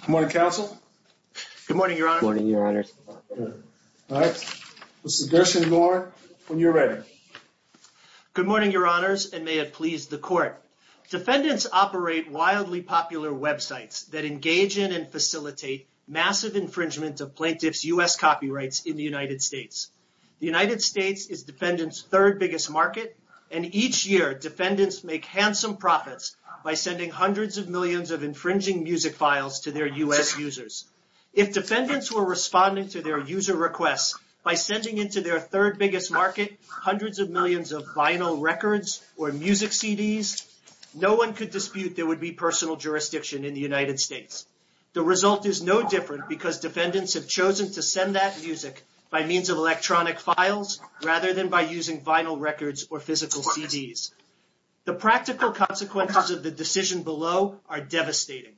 Good morning, counsel. Good morning, your Honor. All right, Mr. Gershengorn, when you're ready. Good morning, your Honors, and may it please the Court. Defendants operate wildly popular websites that engage in and facilitate massive infringement of plaintiffs' U.S. copyrights in the United States. The United States is defendants' third biggest market, and each year defendants make handsome profits by sending hundreds of millions of infringing music files to their U.S. users. If defendants were responding to their user requests by sending into their third biggest market hundreds of millions of vinyl records or music CDs, no one could dispute there would be personal jurisdiction in the United States. The result is no different because defendants have chosen to send that music by means of electronic files rather than by using vinyl records or physical CDs. The practical consequences of the decision below are devastating.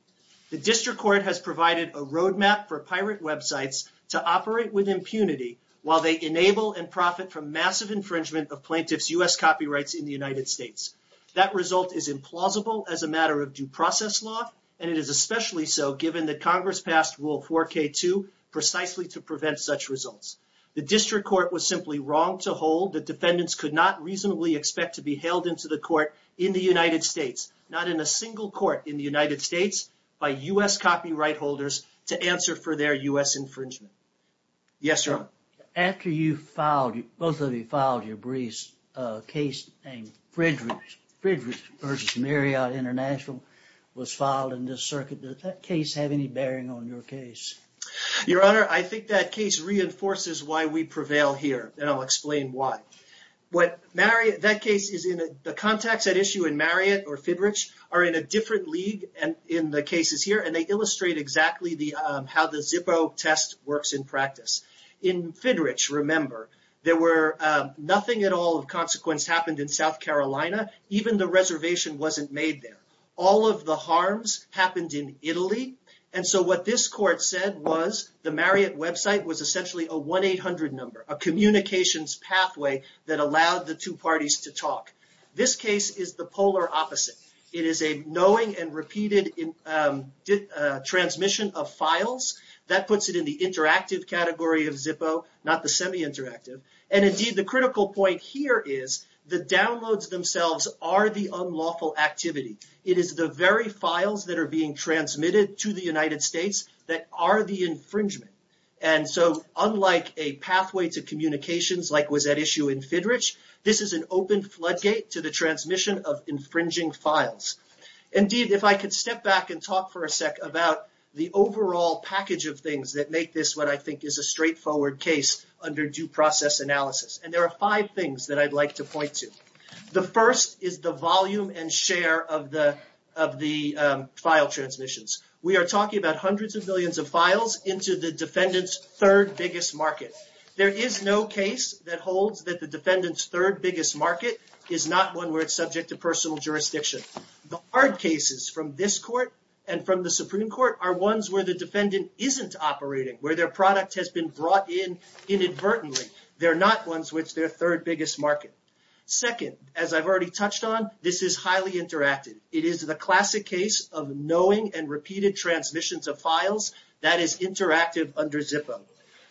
The District Court has provided a roadmap for pirate websites to operate with impunity while they enable and profit from massive infringement of plaintiffs' U.S. copyrights in the United States. That result is implausible as a matter of due process law, and it is especially so given that Congress passed Rule 4K2 precisely to prevent such results. The District Court was simply wrong to hold that defendants could not reasonably expect to be held into the court in the United States, not in a single court in the United States, by U.S. copyright holders to answer for their U.S. infringement. Yes, Your Honor. After you filed, both of you filed your briefs, a case named Frederick versus Marriott International was filed in this circuit. Does that case have any bearing on your case? Your Honor, I think that case reinforces why we prevail here, and I'll explain why. What Marriott, that case is in, the contacts at issue in Marriott or Fidrich are in a different league in the cases here, and they illustrate exactly how the Zippo test works in practice. In Fidrich, remember, there were nothing at all of consequence happened in South Carolina. Even the reservation wasn't made there. All of the harms happened in Italy, and so what this court said was the Marriott website was essentially a 1-800 number, a communications pathway that allowed the two parties to talk. This case is the polar opposite. It is a knowing and repeated transmission of files. That puts it in the interactive category of Zippo, not the semi-interactive, and indeed the critical point here is the downloads themselves are the unlawful activity. It is the very files that are being transmitted to the United States that are the infringement. Unlike a pathway to communications like was at issue in Fidrich, this is an open floodgate to the transmission of infringing files. Indeed, if I could step back and talk for a sec about the overall package of things that make this what I think is a straightforward case under due process analysis, and there are five things that I'd like to point to. The first is the volume and share of the file transmissions. We are talking about hundreds of millions of files into the defendant's third biggest market. There is no case that holds that the defendant's third biggest market is not one where it's subject to personal jurisdiction. The hard cases from this court and from the Supreme Court are ones where the defendant isn't operating, where their product has been brought in inadvertently. They're not ones which their third biggest market. Second, as I've already touched on, this is highly interactive. It is the classic case of knowing and repeated transmissions of files that is interactive under ZIPA.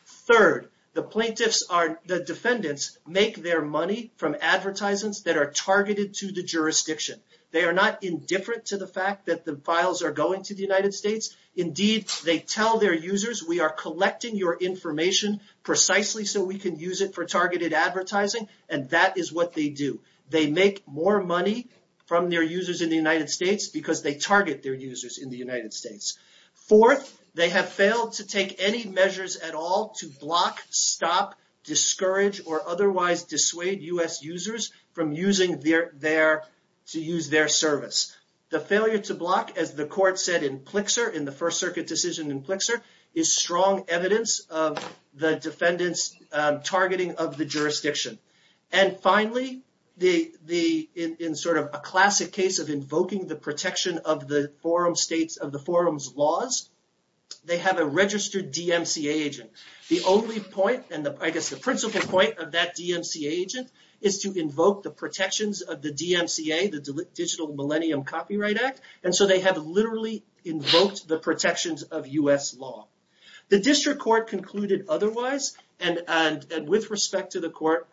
Third, the plaintiffs are, the defendants make their money from advertisements that are targeted to the jurisdiction. They are not indifferent to the fact that the files are going to the United States. Indeed, they tell their users, we are collecting your information precisely so we can use it for targeted advertising, and that is what they do. They make more money from their users in the United States because they target their users in the United States. Fourth, they have failed to take any measures at all to block, stop, discourage, or otherwise dissuade US users from using their, to use their service. The failure to block, as the defendant's targeting of the jurisdiction. And finally, in sort of a classic case of invoking the protection of the forum's laws, they have a registered DMCA agent. The only point, and I guess the principal point of that DMCA agent is to invoke the protections of the DMCA, the Digital Millennium Copyright Act, and so they have literally invoked the protections of US law. The district court concluded otherwise, and with respect to the court,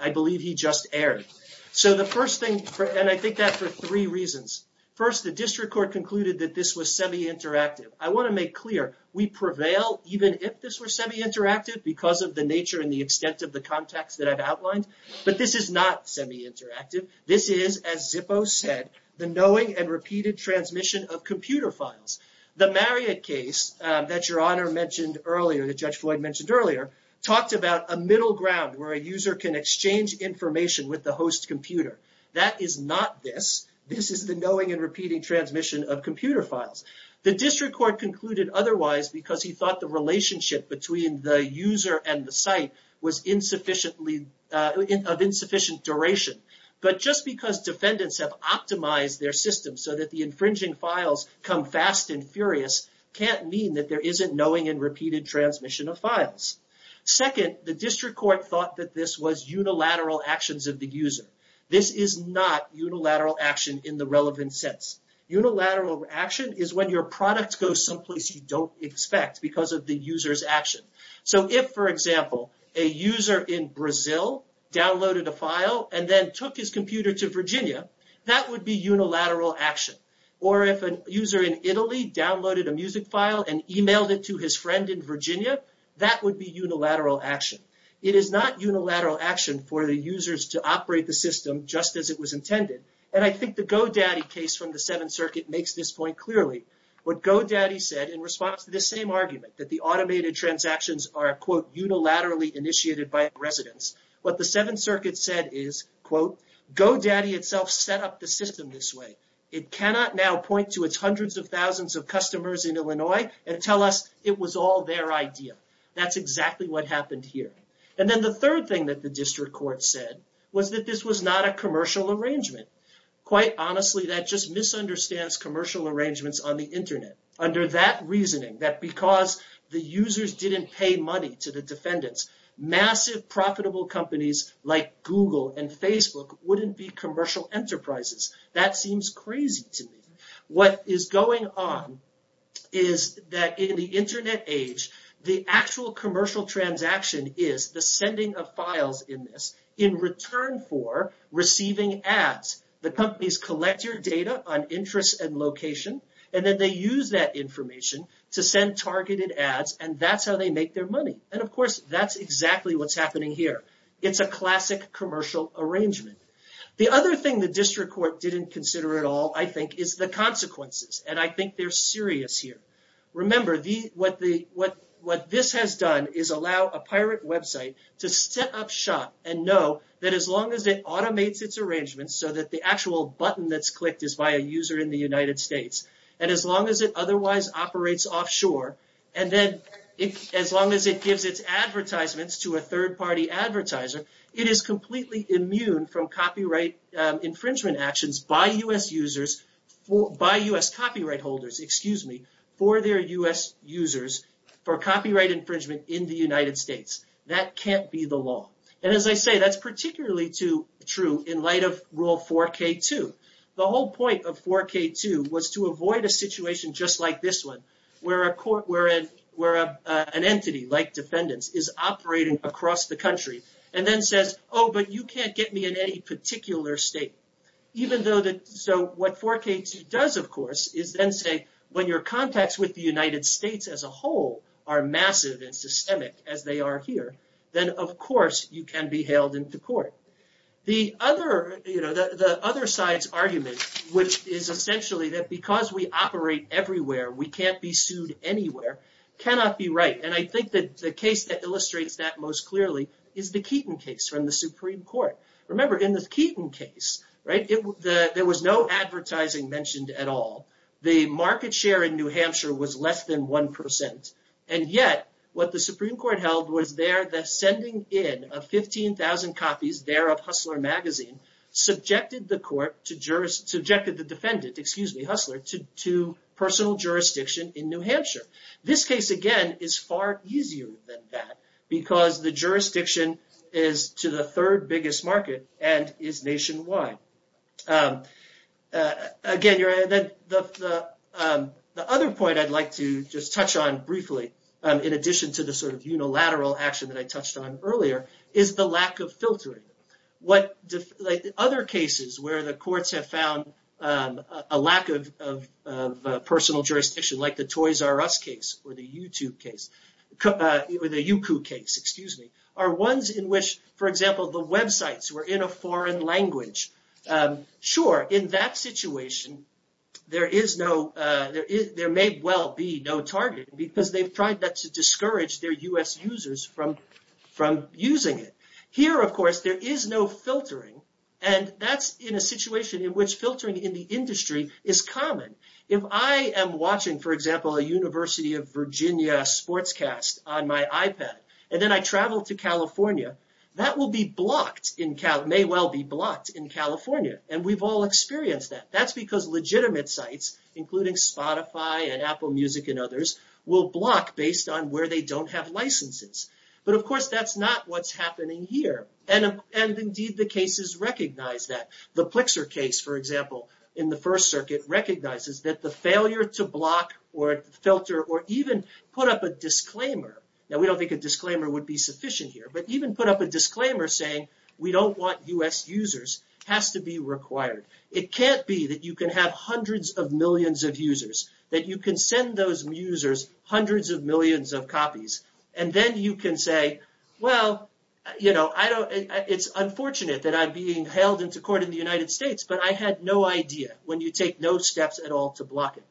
I believe he just erred. So the first thing, and I think that for three reasons. First, the district court concluded that this was semi-interactive. I want to make clear, we prevail even if this were semi-interactive because of the nature and the extent of the context that I've outlined, but this is not semi-interactive. This is, as Zippo said, the knowing and repeated transmission of computer files. The Marriott case that Your Honor mentioned earlier, that Judge Floyd mentioned earlier, talked about a middle ground where a user can exchange information with the host computer. That is not this. This is the knowing and repeating transmission of computer files. The district court concluded otherwise because he thought the relationship between the user and the site was insufficiently, of insufficient duration. But just because defendants have optimized their system so that the infringing files come fast and furious can't mean that there isn't knowing and repeated transmission of files. Second, the district court thought that this was unilateral actions of the user. This is not unilateral action in the relevant sense. Unilateral action is when your product goes someplace you don't expect because of the user's action. So if, for example, a user in Brazil downloaded a file and then took his computer to Virginia, that would be unilateral action. Or if a user in Italy downloaded a music file and emailed it to his friend in Virginia, that would be unilateral action. It is not unilateral action for the users to operate the system just as it was intended. And I think the GoDaddy case from the Seventh Circuit makes this point clearly. What GoDaddy said in response to this same argument, that residents, what the Seventh Circuit said is, quote, GoDaddy itself set up the system this way. It cannot now point to its hundreds of thousands of customers in Illinois and tell us it was all their idea. That's exactly what happened here. And then the third thing that the district court said was that this was not a commercial arrangement. Quite honestly, that just misunderstands commercial arrangements on the Internet. Under that reasoning, that because the users didn't pay money to the defendants, massive profitable companies like Google and Facebook wouldn't be commercial enterprises, that seems crazy to me. What is going on is that in the Internet age, the actual commercial transaction is the sending of files in this in return for receiving ads. The companies collect your ad information to send targeted ads and that's how they make their money. And of course, that's exactly what's happening here. It's a classic commercial arrangement. The other thing the district court didn't consider at all, I think, is the consequences. And I think they're serious here. Remember, what this has done is allow a pirate website to set up shop and know that as long as it automates its arrangements so that the actual button that's clicked is by a user in the United States, and as long as it otherwise operates offshore, and then as long as it gives its advertisements to a third-party advertiser, it is completely immune from copyright infringement actions by U.S. users, by U.S. copyright holders, excuse me, for their U.S. users for copyright infringement in the United States. That can't be the law. And as I say, that's particularly true in the United States. The whole point of 4K2 was to avoid a situation just like this one, where an entity like defendants is operating across the country and then says, oh, but you can't get me in any particular state. So what 4K2 does, of course, is then say, when your contacts with the United States as a whole are massive and systemic as they are here, then, of course, you can be hailed into court. The other side's argument is essentially that because we operate everywhere, we can't be sued anywhere, cannot be right. And I think that the case that illustrates that most clearly is the Keaton case from the Supreme Court. Remember, in the Keaton case, there was no advertising mentioned at all. The market share in New Hampshire was less than 1%. And yet, what the Supreme Court held was there the sending in of 15,000 copies there of Hustler Magazine subjected the defendant, excuse me, Hustler, to personal jurisdiction in New Hampshire. This case, again, is far easier than that because the jurisdiction is to the third biggest market and is nationwide. Again, the other point I'd like to just touch on briefly, in addition to the sort of unilateral action that I touched on earlier, is the lack of filtering. Other cases where the courts have found a lack of personal jurisdiction, like the Toys R Us case or the YouCoup case, are ones in which, for example, the websites were in a foreign language. Sure, in that situation, there may well be no target, but there may well be no filtering because they've tried not to discourage their U.S. users from using it. Here, of course, there is no filtering, and that's in a situation in which filtering in the industry is common. If I am watching, for example, a University of Virginia sportscast on my iPad, and then I travel to California, that may well be blocked in California, and we've all experienced that. That's because legitimate sites, including Spotify and Apple Music and others, will block based on where they don't have licenses. Of course, that's not what's happening here. Indeed, the cases recognize that. The Plexer case, for example, in the First Circuit, recognizes that the failure to block or filter or even put up a disclaimer. Now, we don't think a disclaimer would be sufficient here, but even put up a disclaimer saying, we don't want U.S. users has to be required. It can't be that you can have hundreds of millions of users, that you can send those users hundreds of millions of copies, and then you can say, well, it's unfortunate that I'm being held into court in the United States, but I had no idea when you take no steps at all to block it.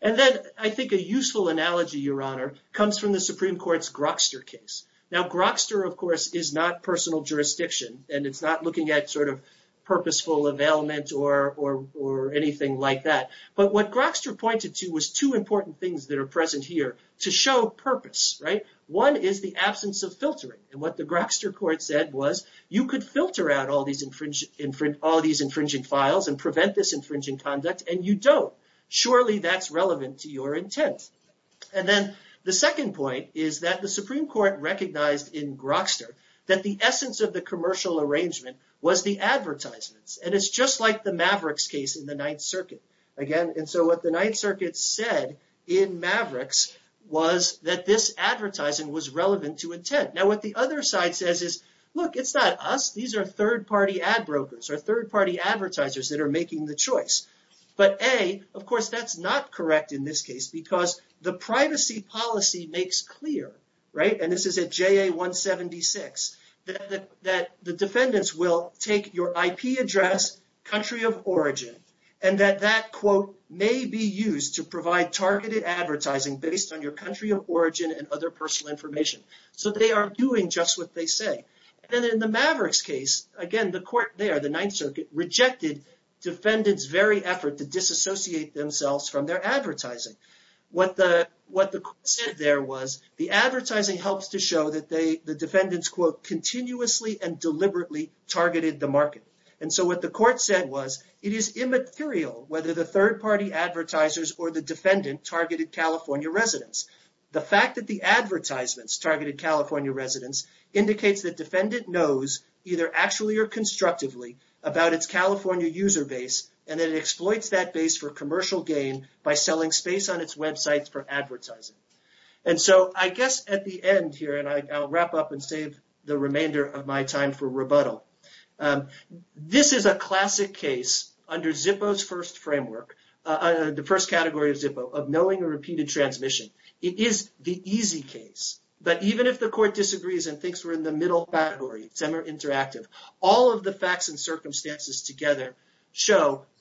Then, I think a useful analogy, Your Honor, comes from the Supreme Court's Grokster case. Now, Grokster, of course, is not personal jurisdiction, and it's not looking at purposeful availment or anything like that, but what Grokster pointed to was two important things that are present here to show purpose. One is the absence of filtering, and what the Grokster court said was, you could filter out all these infringing files and prevent this infringing conduct, and you don't. Surely, that's relevant to your intent. Then, the second point is that the Supreme Court recognized in Grokster that the essence of the commercial arrangement was the advertisements, and it's just like the Mavericks case in the Ninth Circuit. Again, and so what the Ninth Circuit said in Mavericks was that this advertising was relevant to intent. Now, what the other side says is, look, it's not us. These are third-party ad brokers or third-party advertisers that are making the privacy policy makes clear, and this is at JA 176, that the defendants will take your IP address, country of origin, and that that, quote, may be used to provide targeted advertising based on your country of origin and other personal information, so they are doing just what they say. Then, in the Mavericks case, again, the court there, the Ninth Circuit, rejected defendants' very effort to disassociate themselves from their advertising. What the court said there was, the advertising helps to show that the defendants, quote, continuously and deliberately targeted the market, and so what the court said was, it is immaterial whether the third-party advertisers or the defendant targeted California residents. The fact that the advertisements targeted California residents indicates that defendant knows, either actually or constructively, about its California user base and that it exploits that base for commercial gain by selling space on its websites for advertising. And so, I guess at the end here, and I'll wrap up and save the remainder of my time for rebuttal, this is a classic case under Zippo's first framework, the first category of Zippo, of knowing a repeated transmission. It is the easy case, but even if the court disagrees and thinks we're in the middle category, it's ever interactive. All of the facts and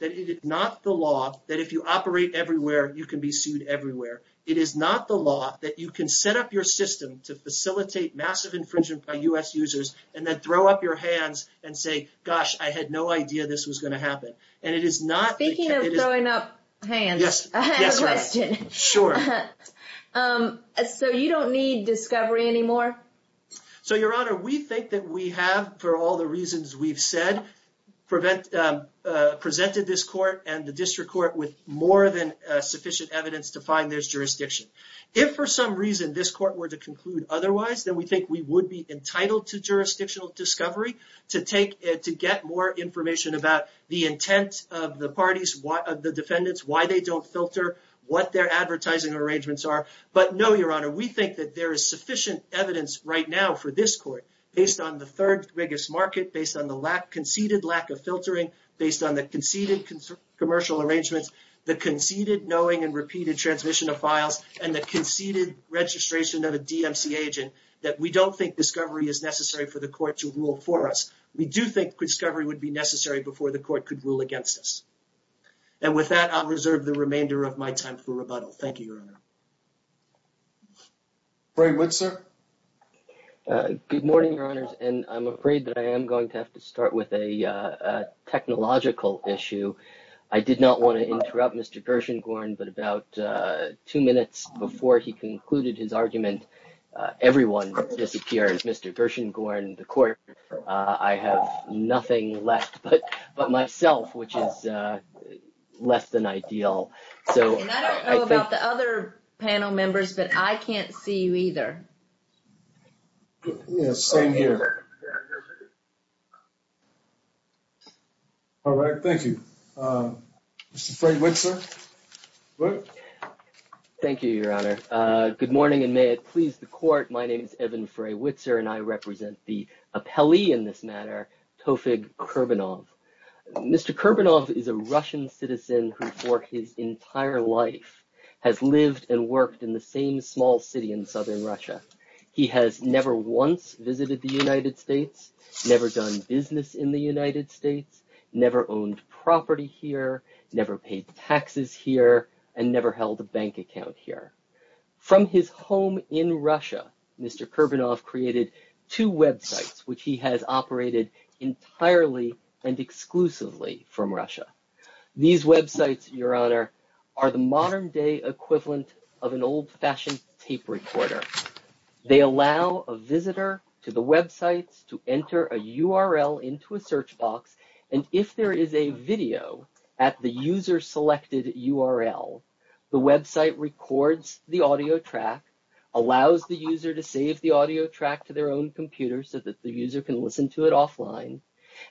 it is not the law that if you operate everywhere, you can be sued everywhere. It is not the law that you can set up your system to facilitate massive infringement by U.S. users and then throw up your hands and say, gosh, I had no idea this was going to happen. And it is not the case. Speaking of throwing up hands, I have a question. Sure. So, you don't need discovery anymore? So, Your Honor, we think that we have, for all the reasons we've said, presented this court and the district court with more than sufficient evidence to find there's jurisdiction. If for some reason this court were to conclude otherwise, then we think we would be entitled to jurisdictional discovery to get more information about the intent of the parties, of the defendants, why they don't filter, what their advertising arrangements are. But no, Your Honor, we think that there is sufficient evidence right now for this court, based on the third biggest market, based on the conceded lack of filtering, based on the conceded commercial arrangements, the conceded knowing and repeated transmission of files, and the conceded registration of a DMC agent, that we don't think discovery is necessary for the court to rule for us. We do think discovery would be necessary before the court could rule against us. And with that, I'll reserve the remainder of my time for rebuttal. Thank you, Your Honor. Roy Wood, sir. Good morning, Your Honors, and I'm afraid that I am going to have to start with a technological issue. I did not want to interrupt Mr. Gershengorn, but about two minutes before he concluded his argument, everyone disappeared. Mr. Gershengorn, the court, I have nothing left but myself, which is less than ideal. And I don't know about the other panel members, but I can't see you either. Yes, same here. All right, thank you. Mr. Frey-Witzer. Thank you, Your Honor. Good morning, and may it please the court, my name is Evan Frey-Witzer, and I represent the appellee in this matter, Tofig Kurbanov. Mr. Kurbanov is a Russian citizen who for his entire life has lived and worked in the same small city in southern Russia. He has never once visited the United States, never done business in the United States, never owned property here, never paid taxes here, and never held a bank account here. From his home in Russia, Mr. Kurbanov created two websites which he has operated entirely and exclusively from Russia. These websites, Your Honor, are the modern-day equivalent of an old-fashioned tape recorder. They allow a visitor to the websites to enter a URL into a search box, and if there is a video at the user-selected URL, the website records the audio track, allows the user to save the audio track to their own computer so that the user can listen to it offline,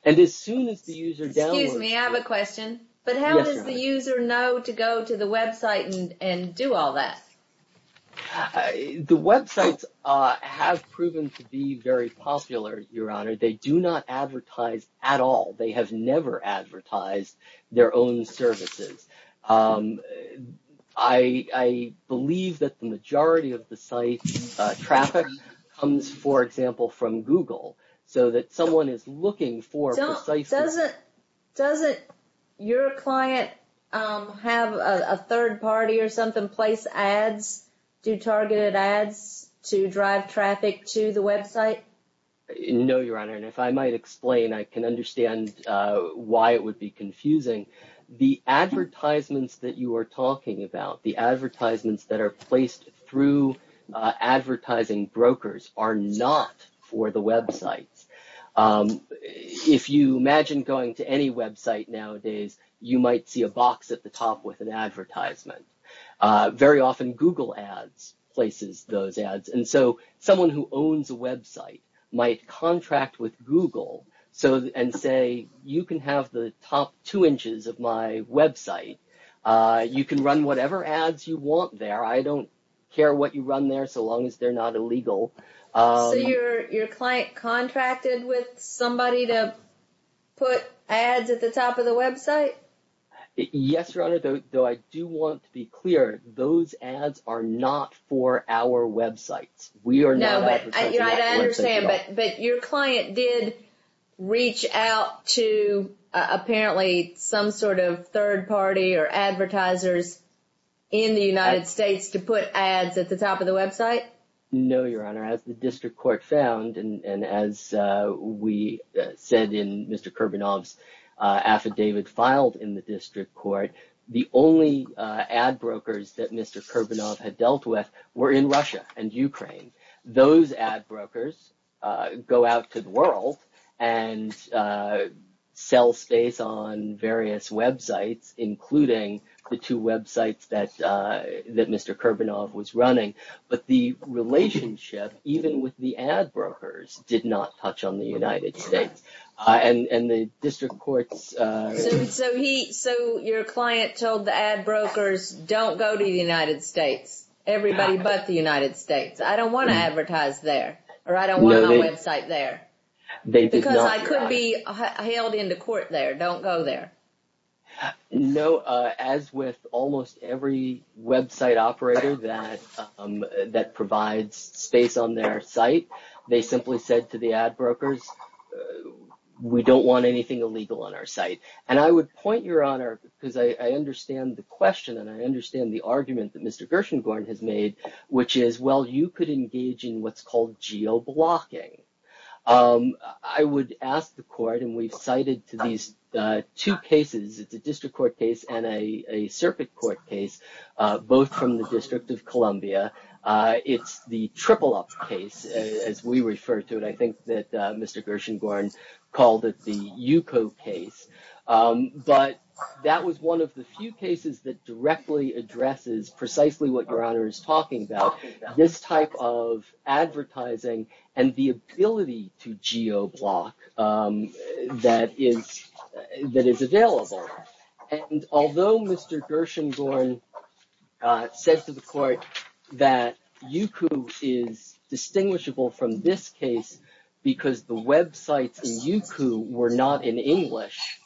and as soon as the user downloads it... Excuse me, I have a question. Yes, Your Honor. But how does the user know to go to the website and do all that? The websites have proven to be very popular, Your Honor. They do not advertise at all. They have never advertised their own services. I believe that the majority of the site traffic comes, for example, from Google, so that someone is looking for... Doesn't your client have a third party or something place ads, do targeted ads, to drive traffic to the website? No, Your Honor, and if I might explain, I can understand why it would be confusing. The advertisements that you are talking about, the advertisements that are placed through advertising brokers are not for the websites. If you imagine going to any website nowadays, you might see a box at the top with an advertisement. Very often, Google ads places those ads, and so someone who owns a website might contract with Google and say, you can have the top two inches of my website. You can run whatever ads you want there. I don't care what you run there so long as they're not illegal. So your client contracted with somebody to put ads at the top of the website? Yes, Your Honor, though I do want to be clear, those ads are not for our websites. I understand, but your client did reach out to, apparently, some sort of third party or advertisers in the United States to put ads at the top of the website? No, Your Honor, as the District Court found, and as we said in Mr. Kurbanov's affidavit filed in the District Court, the only ad brokers that Mr. Kurbanov had dealt with were in Russia and Ukraine. Those ad brokers go out to the world and sell space on various websites, including the two websites that Mr. Kurbanov was running. But the relationship, even with the ad brokers, did not touch on the United States. So your client told the ad brokers, don't go to the United States, everybody but the United States. I don't want to advertise there, or I don't want my website there. Because I could be held into court there, don't go there. No, as with almost every website operator that provides space on their site, they simply said to the ad brokers, we don't want anything illegal on our site. And I would point, Your Honor, because I understand the question and I understand the argument that Mr. Gershengorn has made, which is, well, you could engage in what's called geo-blocking. I would ask the court, and we've cited these two cases, the District Court case and a Serpuk court case, both from the District of Columbia. It's the triple-up case, as we refer to it. I think that Mr. Gershengorn called it the Yuko case. But that was one of the few cases that directly addresses precisely what Your Honor is talking about, this type of advertising and the ability to geo-block that is available. And although Mr. Gershengorn says to the court that Yuko is distinguishable from this case because the websites in Yuko were not in English,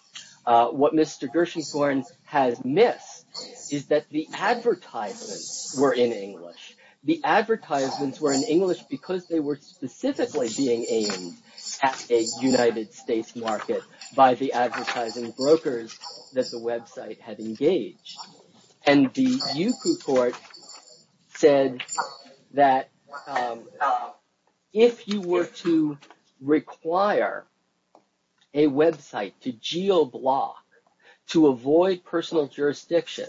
what Mr. Gershengorn has missed is that the advertisements were in English. The advertisements were in English because they were specifically being aimed at a United States market by the advertising brokers that the website had engaged. And the Yuko court said that if you were to require a website to geo-block, to avoid personal jurisdiction,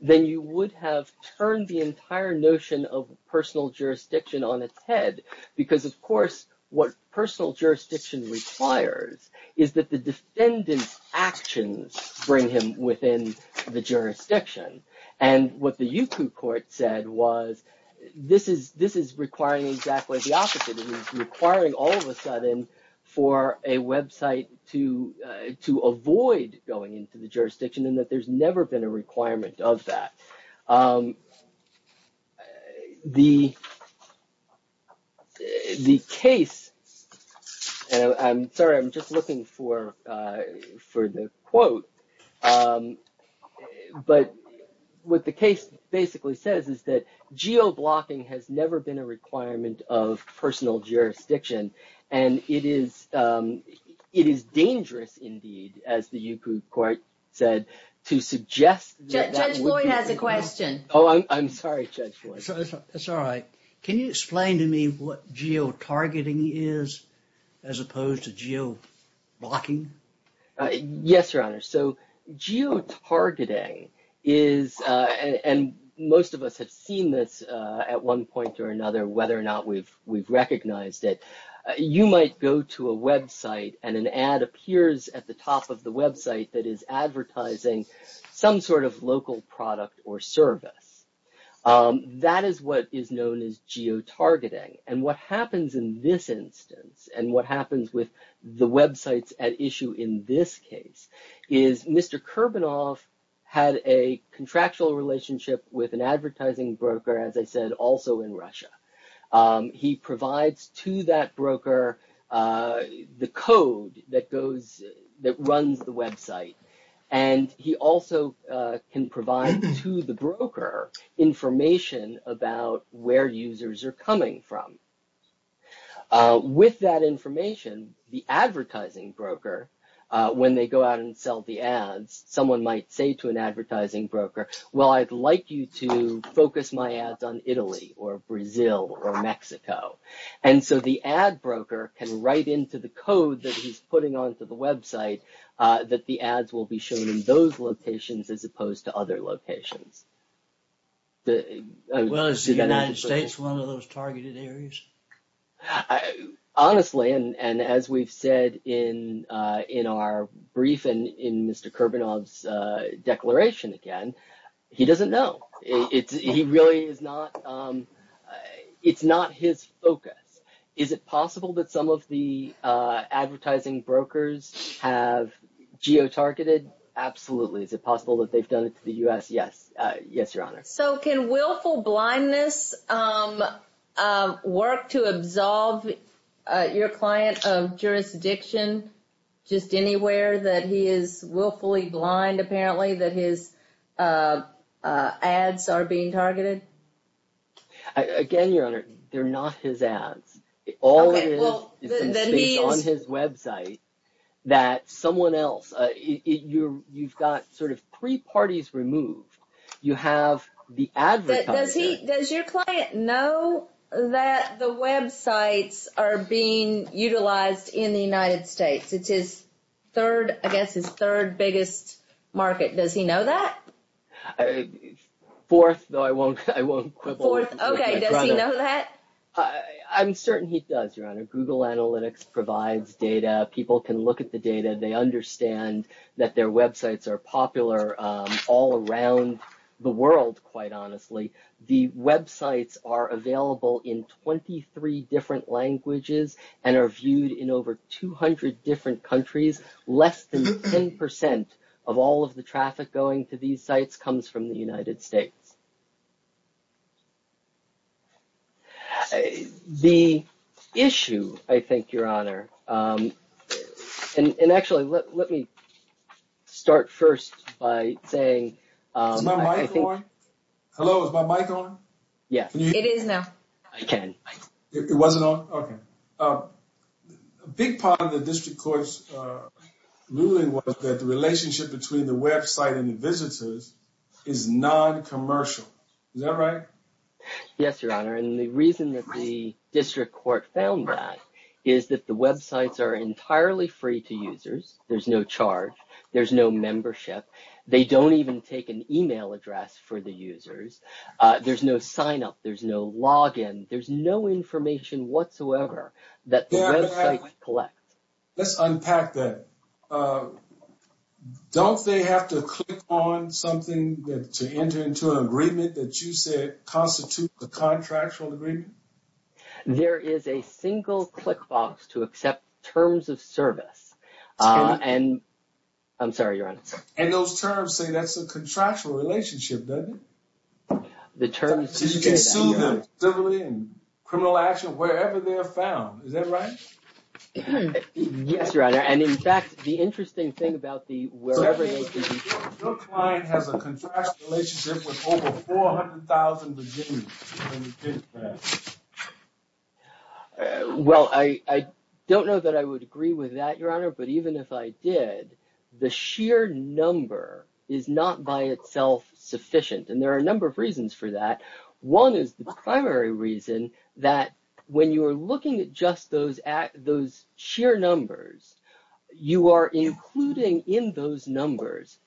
then you would have turned the entire notion of personal jurisdiction on its head. Because, of course, what personal jurisdiction requires is that the defendant's actions bring him within the jurisdiction. And what the Yuko court said was this is requiring exactly the opposite. It is requiring all of a sudden for a website to avoid going into the jurisdiction and that there's never been a requirement of that. The case, and I'm sorry, I'm just looking for the quote. But what the case basically says is that geo-blocking has never been a requirement of personal jurisdiction. And it is dangerous indeed, as the Yuko court said, to suggest that that would be. Judge Lloyd has a question. Oh, I'm sorry, Judge Lloyd. That's all right. Can you explain to me what geo-targeting is as opposed to geo-blocking? Yes, Your Honor. So geo-targeting is, and most of us have seen this at one point or another, whether or not we've recognized it. You might go to a website and an ad appears at the top of the website that is advertising some sort of local product or service. That is what is known as geo-targeting. And what happens in this instance and what happens with the websites at issue in this case is Mr. Kurbanoff had a contractual relationship with an advertising broker, as I said, also in Russia. He provides to that broker the code that runs the website. And he also can provide to the broker information about where users are coming from. With that information, the advertising broker, when they go out and sell the ads, someone might say to an advertising broker, well, I'd like you to focus my ads on Italy or Brazil or Mexico. And so the ad broker can write into the code that he's putting onto the website that the ads will be shown in those locations as opposed to other locations. Well, is the United States one of those targeted areas? Honestly, and as we've said in our brief and in Mr. Kurbanoff's declaration again, he doesn't know. He really is not. It's not his focus. Is it possible that some of the advertising brokers have geo-targeted? Absolutely. Is it possible that they've done it to the U.S.? Yes. Yes, Your Honor. So can willful blindness work to absolve your client of jurisdiction just anywhere that he is willfully blind, apparently, that his ads are being targeted? Again, Your Honor, they're not his ads. All of it is based on his website that someone else, you've got sort of three parties removed. You have the advertising. Does your client know that the websites are being utilized in the United States? It's his third, I guess, his third biggest market. Does he know that? Fourth, though I won't quibble. Okay, does he know that? I'm certain he does, Your Honor. Google Analytics provides data. People can look at the data. They understand that their websites are popular all around the world, quite honestly. The websites are available in 23 different languages and are viewed in over 200 different countries. Less than 10% of all of the traffic going to these sites comes from the United States. The issue, I think, Your Honor, and actually, let me start first by saying. Is my mic on? Hello, is my mic on? Yes. It is now. I can. It wasn't on? Okay. A big part of the district court's ruling was that the relationship between the website and the visitors is noncommercial. Is that right? Yes, Your Honor, and the reason that the district court found that is that the websites are entirely free to users. There's no charge. There's no membership. They don't even take an e-mail address for the users. There's no sign-up. There's no log-in. There's no information whatsoever that the websites collect. Let's unpack that. Don't they have to click on something to enter into an agreement that you said constitutes a contractual agreement? There is a single click box to accept terms of service, and I'm sorry, Your Honor. And those terms say that's a contractual relationship, doesn't it? So you can sue them civilly and criminal action wherever they're found. Is that right? Yes, Your Honor, and, in fact, the interesting thing about the wherever they can be found. Your client has a contractual relationship with over 400,000 virginians. Well, I don't know that I would agree with that, Your Honor. But even if I did, the sheer number is not by itself sufficient, and there are a number of reasons for that. One is the primary reason that when you are looking at just those sheer numbers, you are including in those numbers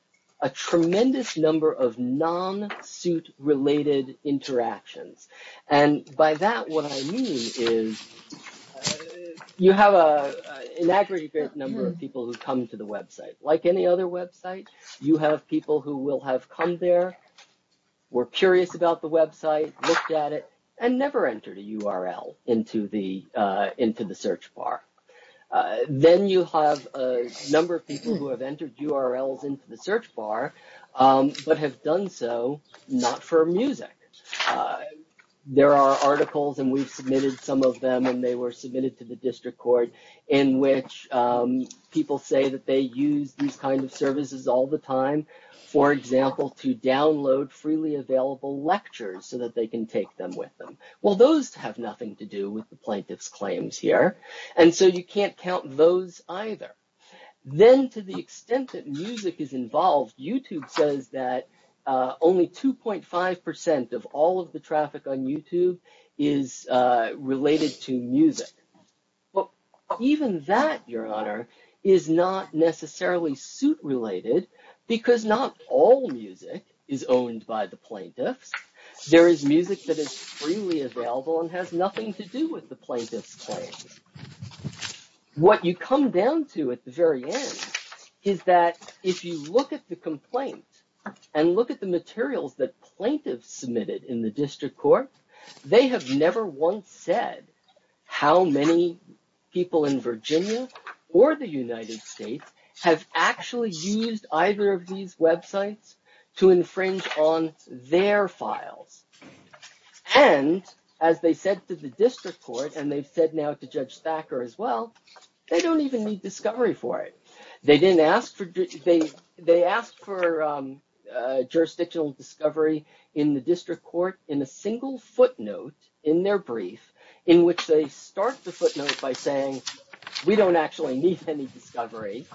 a tremendous number of non-suit-related interactions. And by that, what I mean is you have an aggregate number of people who come to the website. Like any other website, you have people who will have come there, were curious about the website, looked at it, and never entered a URL into the search bar. Then you have a number of people who have entered URLs into the search bar but have done so not for music. There are articles, and we've submitted some of them, and they were submitted to the district court, in which people say that they use these kinds of services all the time, for example, to download freely available lectures so that they can take them with them. Well, those have nothing to do with the plaintiff's claims here, and so you can't count those either. Then to the extent that music is involved, YouTube says that only 2.5% of all of the traffic on YouTube is related to music. Well, even that, Your Honor, is not necessarily suit-related because not all music is owned by the plaintiffs. There is music that is freely available and has nothing to do with the plaintiff's claims. What you come down to at the very end is that if you look at the complaint and look at the materials that plaintiffs submitted in the district court, they have never once said how many people in Virginia or the United States have actually used either of these websites to infringe on their files. And as they said to the district court, and they've said now to Judge Thacker as well, they don't even need discovery for it. They asked for jurisdictional discovery in the district court in a single footnote in their brief, in which they start the footnote by saying, we don't actually need any discovery.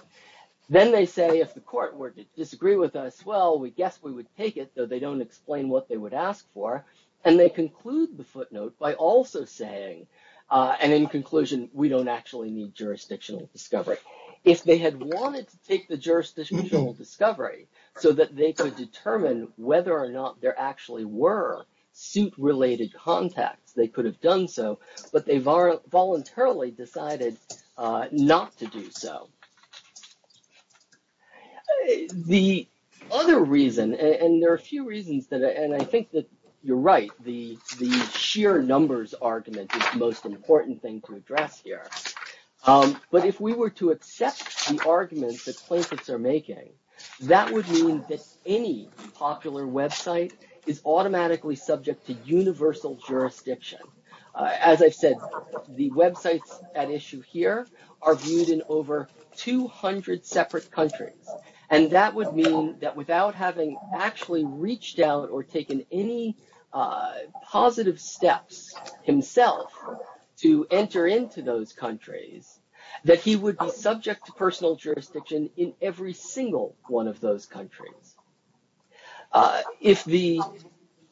Then they say, if the court were to disagree with us, well, we guess we would take it, though they don't explain what they would ask for. And they conclude the footnote by also saying, and in conclusion, we don't actually need jurisdictional discovery. If they had wanted to take the jurisdictional discovery so that they could determine whether or not there actually were suit-related contacts, they could have done so, but they voluntarily decided not to do so. The other reason, and there are a few reasons, and I think that you're right, the sheer numbers argument is the most important thing to address here. But if we were to accept the arguments that plaintiffs are making, that would mean that any popular website is automatically subject to universal jurisdiction. As I've said, the websites at issue here are viewed in over 200 separate countries, and that would mean that without having actually reached out or taken any positive steps himself to enter into those countries, that he would be subject to personal jurisdiction in every single one of those countries. If the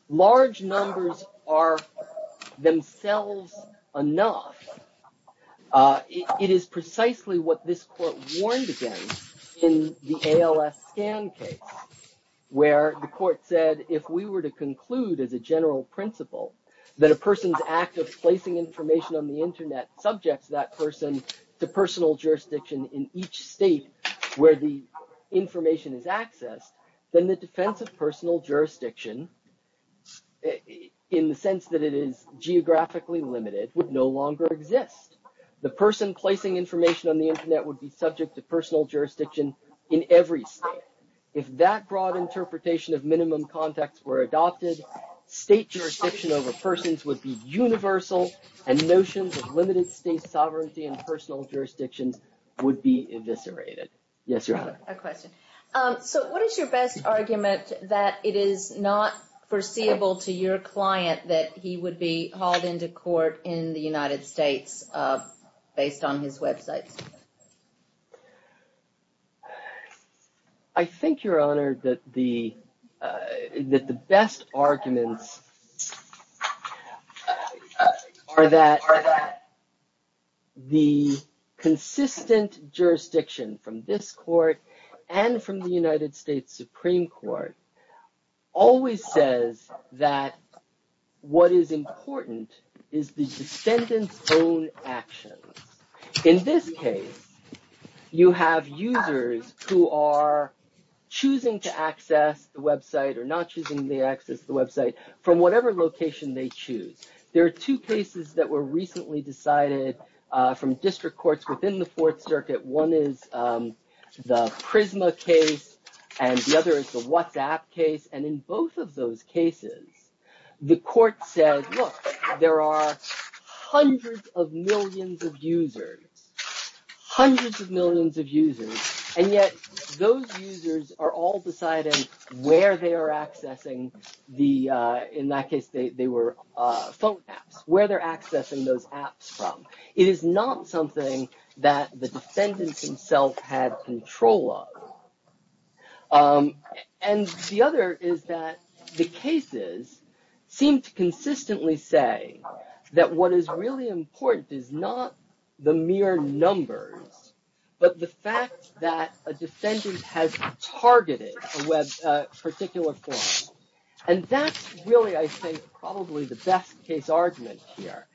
large numbers are themselves enough, it is precisely what this court warned against in the ALS scan case, where the court said if we were to conclude as a general principle that a person's act of placing information on the internet subjects that person to personal jurisdiction in each state where the information is accessed, then the defense of personal jurisdiction, in the sense that it is geographically limited, would no longer exist. The person placing information on the internet would be subject to personal jurisdiction in every state. If that broad interpretation of minimum contacts were adopted, state jurisdiction over persons would be universal, and notions of limited state sovereignty in personal jurisdictions would be eviscerated. Yes, Your Honor. A question. So what is your best argument that it is not foreseeable to your client that he would be hauled into court in the United States based on his websites? I think, Your Honor, that the best arguments are that the consistent jurisdiction from this court and from the United States Supreme Court always says that what is important is the descendant's own actions. In this case, you have users who are choosing to access the website or not choosing to access the website from whatever location they choose. There are two cases that were recently decided from district courts within the Fourth Circuit. One is the Prisma case, and the other is the WhatsApp case. And in both of those cases, the court said, look, there are hundreds of millions of users, hundreds of millions of users, and yet those users are all deciding where they are accessing the, in that case, they were phone apps, where they're accessing those apps from. It is not something that the defendant himself had control of. And the other is that the cases seem to consistently say that what is really important is not the mere numbers, but the fact that a defendant has targeted a particular form. And that's really, I think, probably the best case argument here.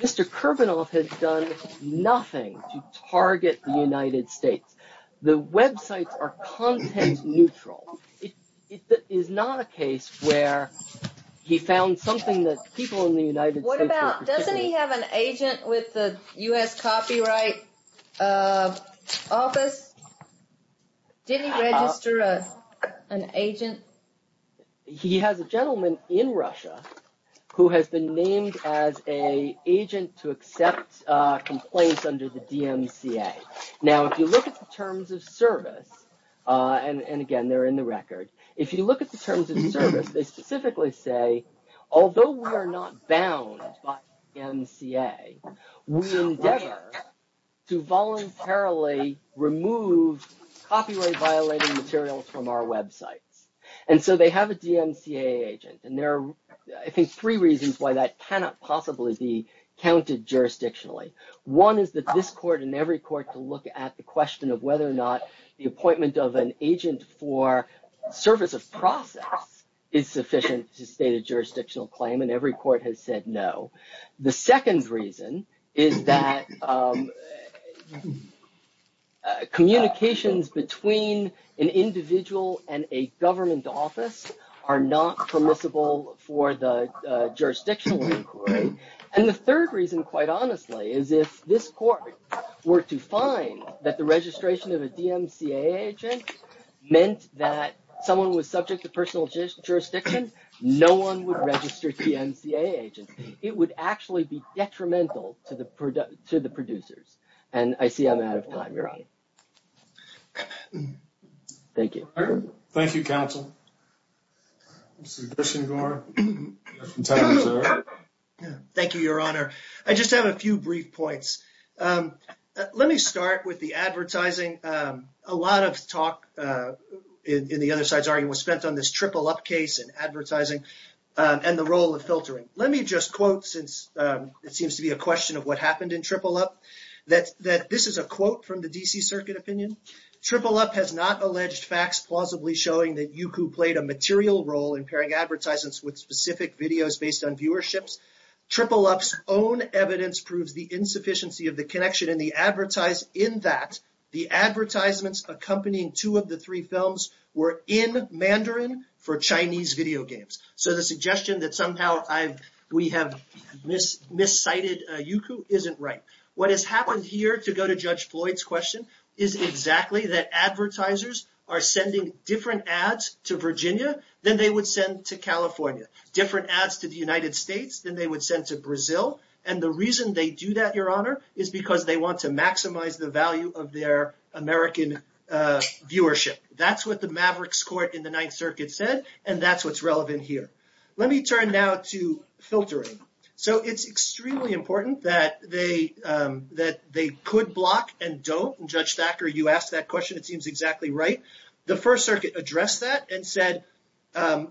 Mr. Kervanov had done nothing to target the United States. The websites are content neutral. It is not a case where he found something that people in the United States were particularly What about, doesn't he have an agent with the U.S. Copyright Office? Didn't he register an agent? He has a gentleman in Russia who has been named as an agent to accept complaints under the DMCA. Now, if you look at the terms of service, and again, they're in the record. If you look at the terms of service, they specifically say, although we are not bound by DMCA, we endeavor to voluntarily remove copyright-violating materials from our websites. And so they have a DMCA agent. And there are, I think, three reasons why that cannot possibly be counted jurisdictionally. One is that this court and every court can look at the question of whether or not the appointment of an agent for service of process is sufficient to state a jurisdictional claim. And every court has said no. The second reason is that communications between an individual and a government office are not permissible for the jurisdictional inquiry. And the third reason, quite honestly, is if this court were to find that the registration of a DMCA agent meant that someone was subject to personal jurisdiction, no one would register DMCA agents. It would actually be detrimental to the producers. And I see I'm out of time, Your Honor. Thank you. Thank you, counsel. Mr. Gershengorn? Thank you, Your Honor. I just have a few brief points. Let me start with the advertising. A lot of talk in the other side's argument was spent on this Triple Up case and advertising and the role of filtering. Let me just quote, since it seems to be a question of what happened in Triple Up, that this is a quote from the D.C. Circuit opinion. Triple Up has not alleged facts plausibly showing that Youku played a material role in pairing advertisements with specific videos based on viewerships. Triple Up's own evidence proves the insufficiency of the connection in that the advertisements accompanying two of the three films were in Mandarin for Chinese video games. So the suggestion that somehow we have miscited Youku isn't right. What has happened here, to go to Judge Floyd's question, is exactly that advertisers are sending different ads to Virginia than they would send to California. Different ads to the United States than they would send to Brazil. And the reason they do that, Your Honor, is because they want to maximize the value of their American viewership. That's what the Mavericks court in the Ninth Circuit said, and that's what's relevant here. Let me turn now to filtering. So it's extremely important that they could block and don't. And Judge Thacker, you asked that question. It seems exactly right. The First Circuit addressed that and said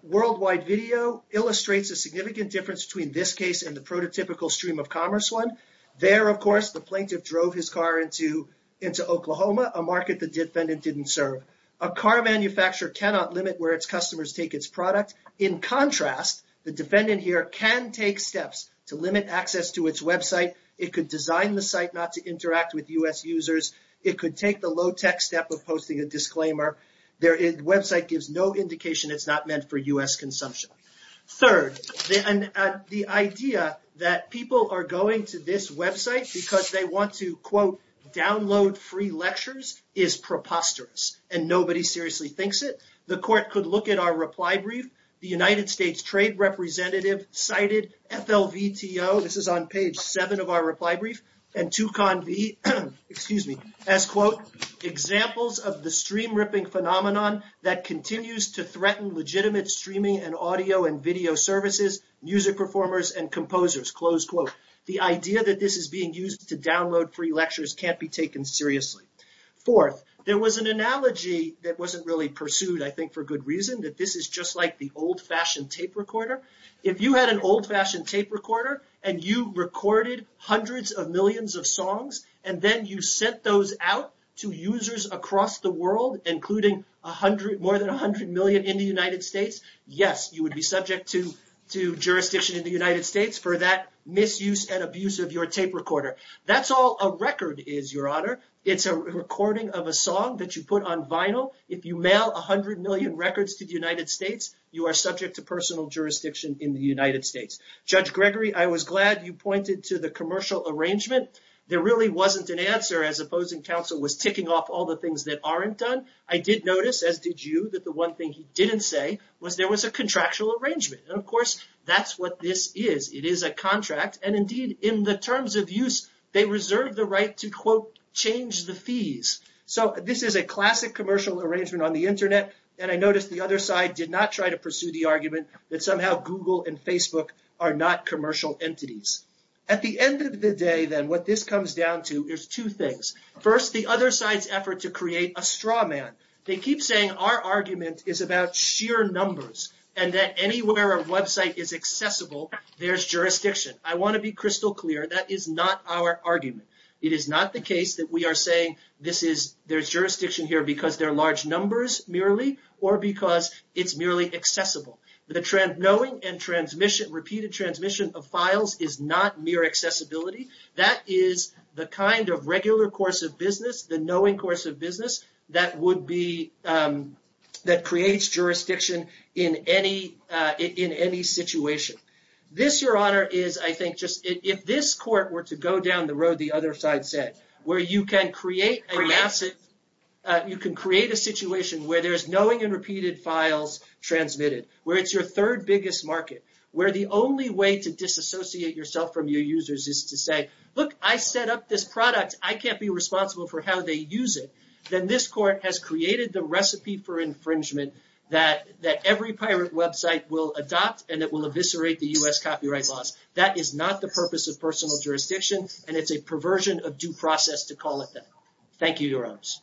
worldwide video illustrates a significant difference between this case and the prototypical stream of commerce one. There, of course, the plaintiff drove his car into Oklahoma, a market the defendant didn't serve. A car manufacturer cannot limit where its customers take its product. In contrast, the defendant here can take steps to limit access to its website. It could design the site not to interact with U.S. users. It could take the low-tech step of posting a disclaimer. Their website gives no indication it's not meant for U.S. consumption. Third, the idea that people are going to this website because they want to, quote, download free lectures is preposterous, and nobody seriously thinks it. The court could look at our reply brief. The United States Trade Representative cited FLVTO, this is on page 7 of our reply brief, and Toucan V, excuse me, as, quote, examples of the stream-ripping phenomenon that continues to threaten legitimate streaming and audio and video services, music performers, and composers, close quote. The idea that this is being used to download free lectures can't be taken seriously. Fourth, there was an analogy that wasn't really pursued, I think, for good reason, that this is just like the old-fashioned tape recorder. If you had an old-fashioned tape recorder and you recorded hundreds of millions of songs and then you sent those out to users across the world, including more than 100 million in the United States, yes, you would be subject to jurisdiction in the United States for that misuse and abuse of your tape recorder. That's all a record is, Your Honor. It's a recording of a song that you put on vinyl. If you mail 100 million records to the United States, you are subject to personal jurisdiction in the United States. Judge Gregory, I was glad you pointed to the commercial arrangement. There really wasn't an answer, as opposing counsel was ticking off all the things that aren't done. I did notice, as did you, that the one thing he didn't say was there was a contractual arrangement, and, of course, that's what this is. It is a contract, and, indeed, in the terms of use, they reserve the right to, quote, change the fees. So this is a classic commercial arrangement on the Internet, and I noticed the other side did not try to pursue the argument that somehow Google and Facebook are not commercial entities. At the end of the day, then, what this comes down to is two things. First, the other side's effort to create a straw man. They keep saying our argument is about sheer numbers and that anywhere a website is accessible, there's jurisdiction. I want to be crystal clear. That is not our argument. It is not the case that we are saying there's jurisdiction here because there are large numbers, merely, or because it's merely accessible. The knowing and repeated transmission of files is not mere accessibility. That is the kind of regular course of business, the knowing course of business, that creates jurisdiction in any situation. This, Your Honor, is, I think, if this court were to go down the road the other side said, where you can create a situation where there's knowing and repeated files transmitted, where it's your third biggest market, where the only way to disassociate yourself from your users is to say, look, I set up this product. I can't be responsible for how they use it. Then this court has created the recipe for infringement that every pirate website will adopt and it will eviscerate the U.S. copyright laws. That is not the purpose of personal jurisdiction, and it's a perversion of due process to call it that. Thank you, Your Honors.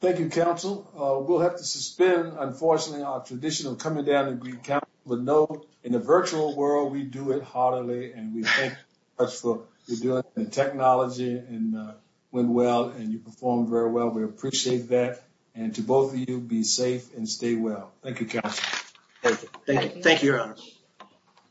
Thank you, Counsel. We'll have to suspend, unfortunately, our tradition of coming down to Greene County. But know, in the virtual world, we do it heartily, and we thank you very much for doing the technology and went well, and you performed very well. We appreciate that. And to both of you, be safe and stay well. Thank you, Counsel. Thank you. Thank you, Your Honor.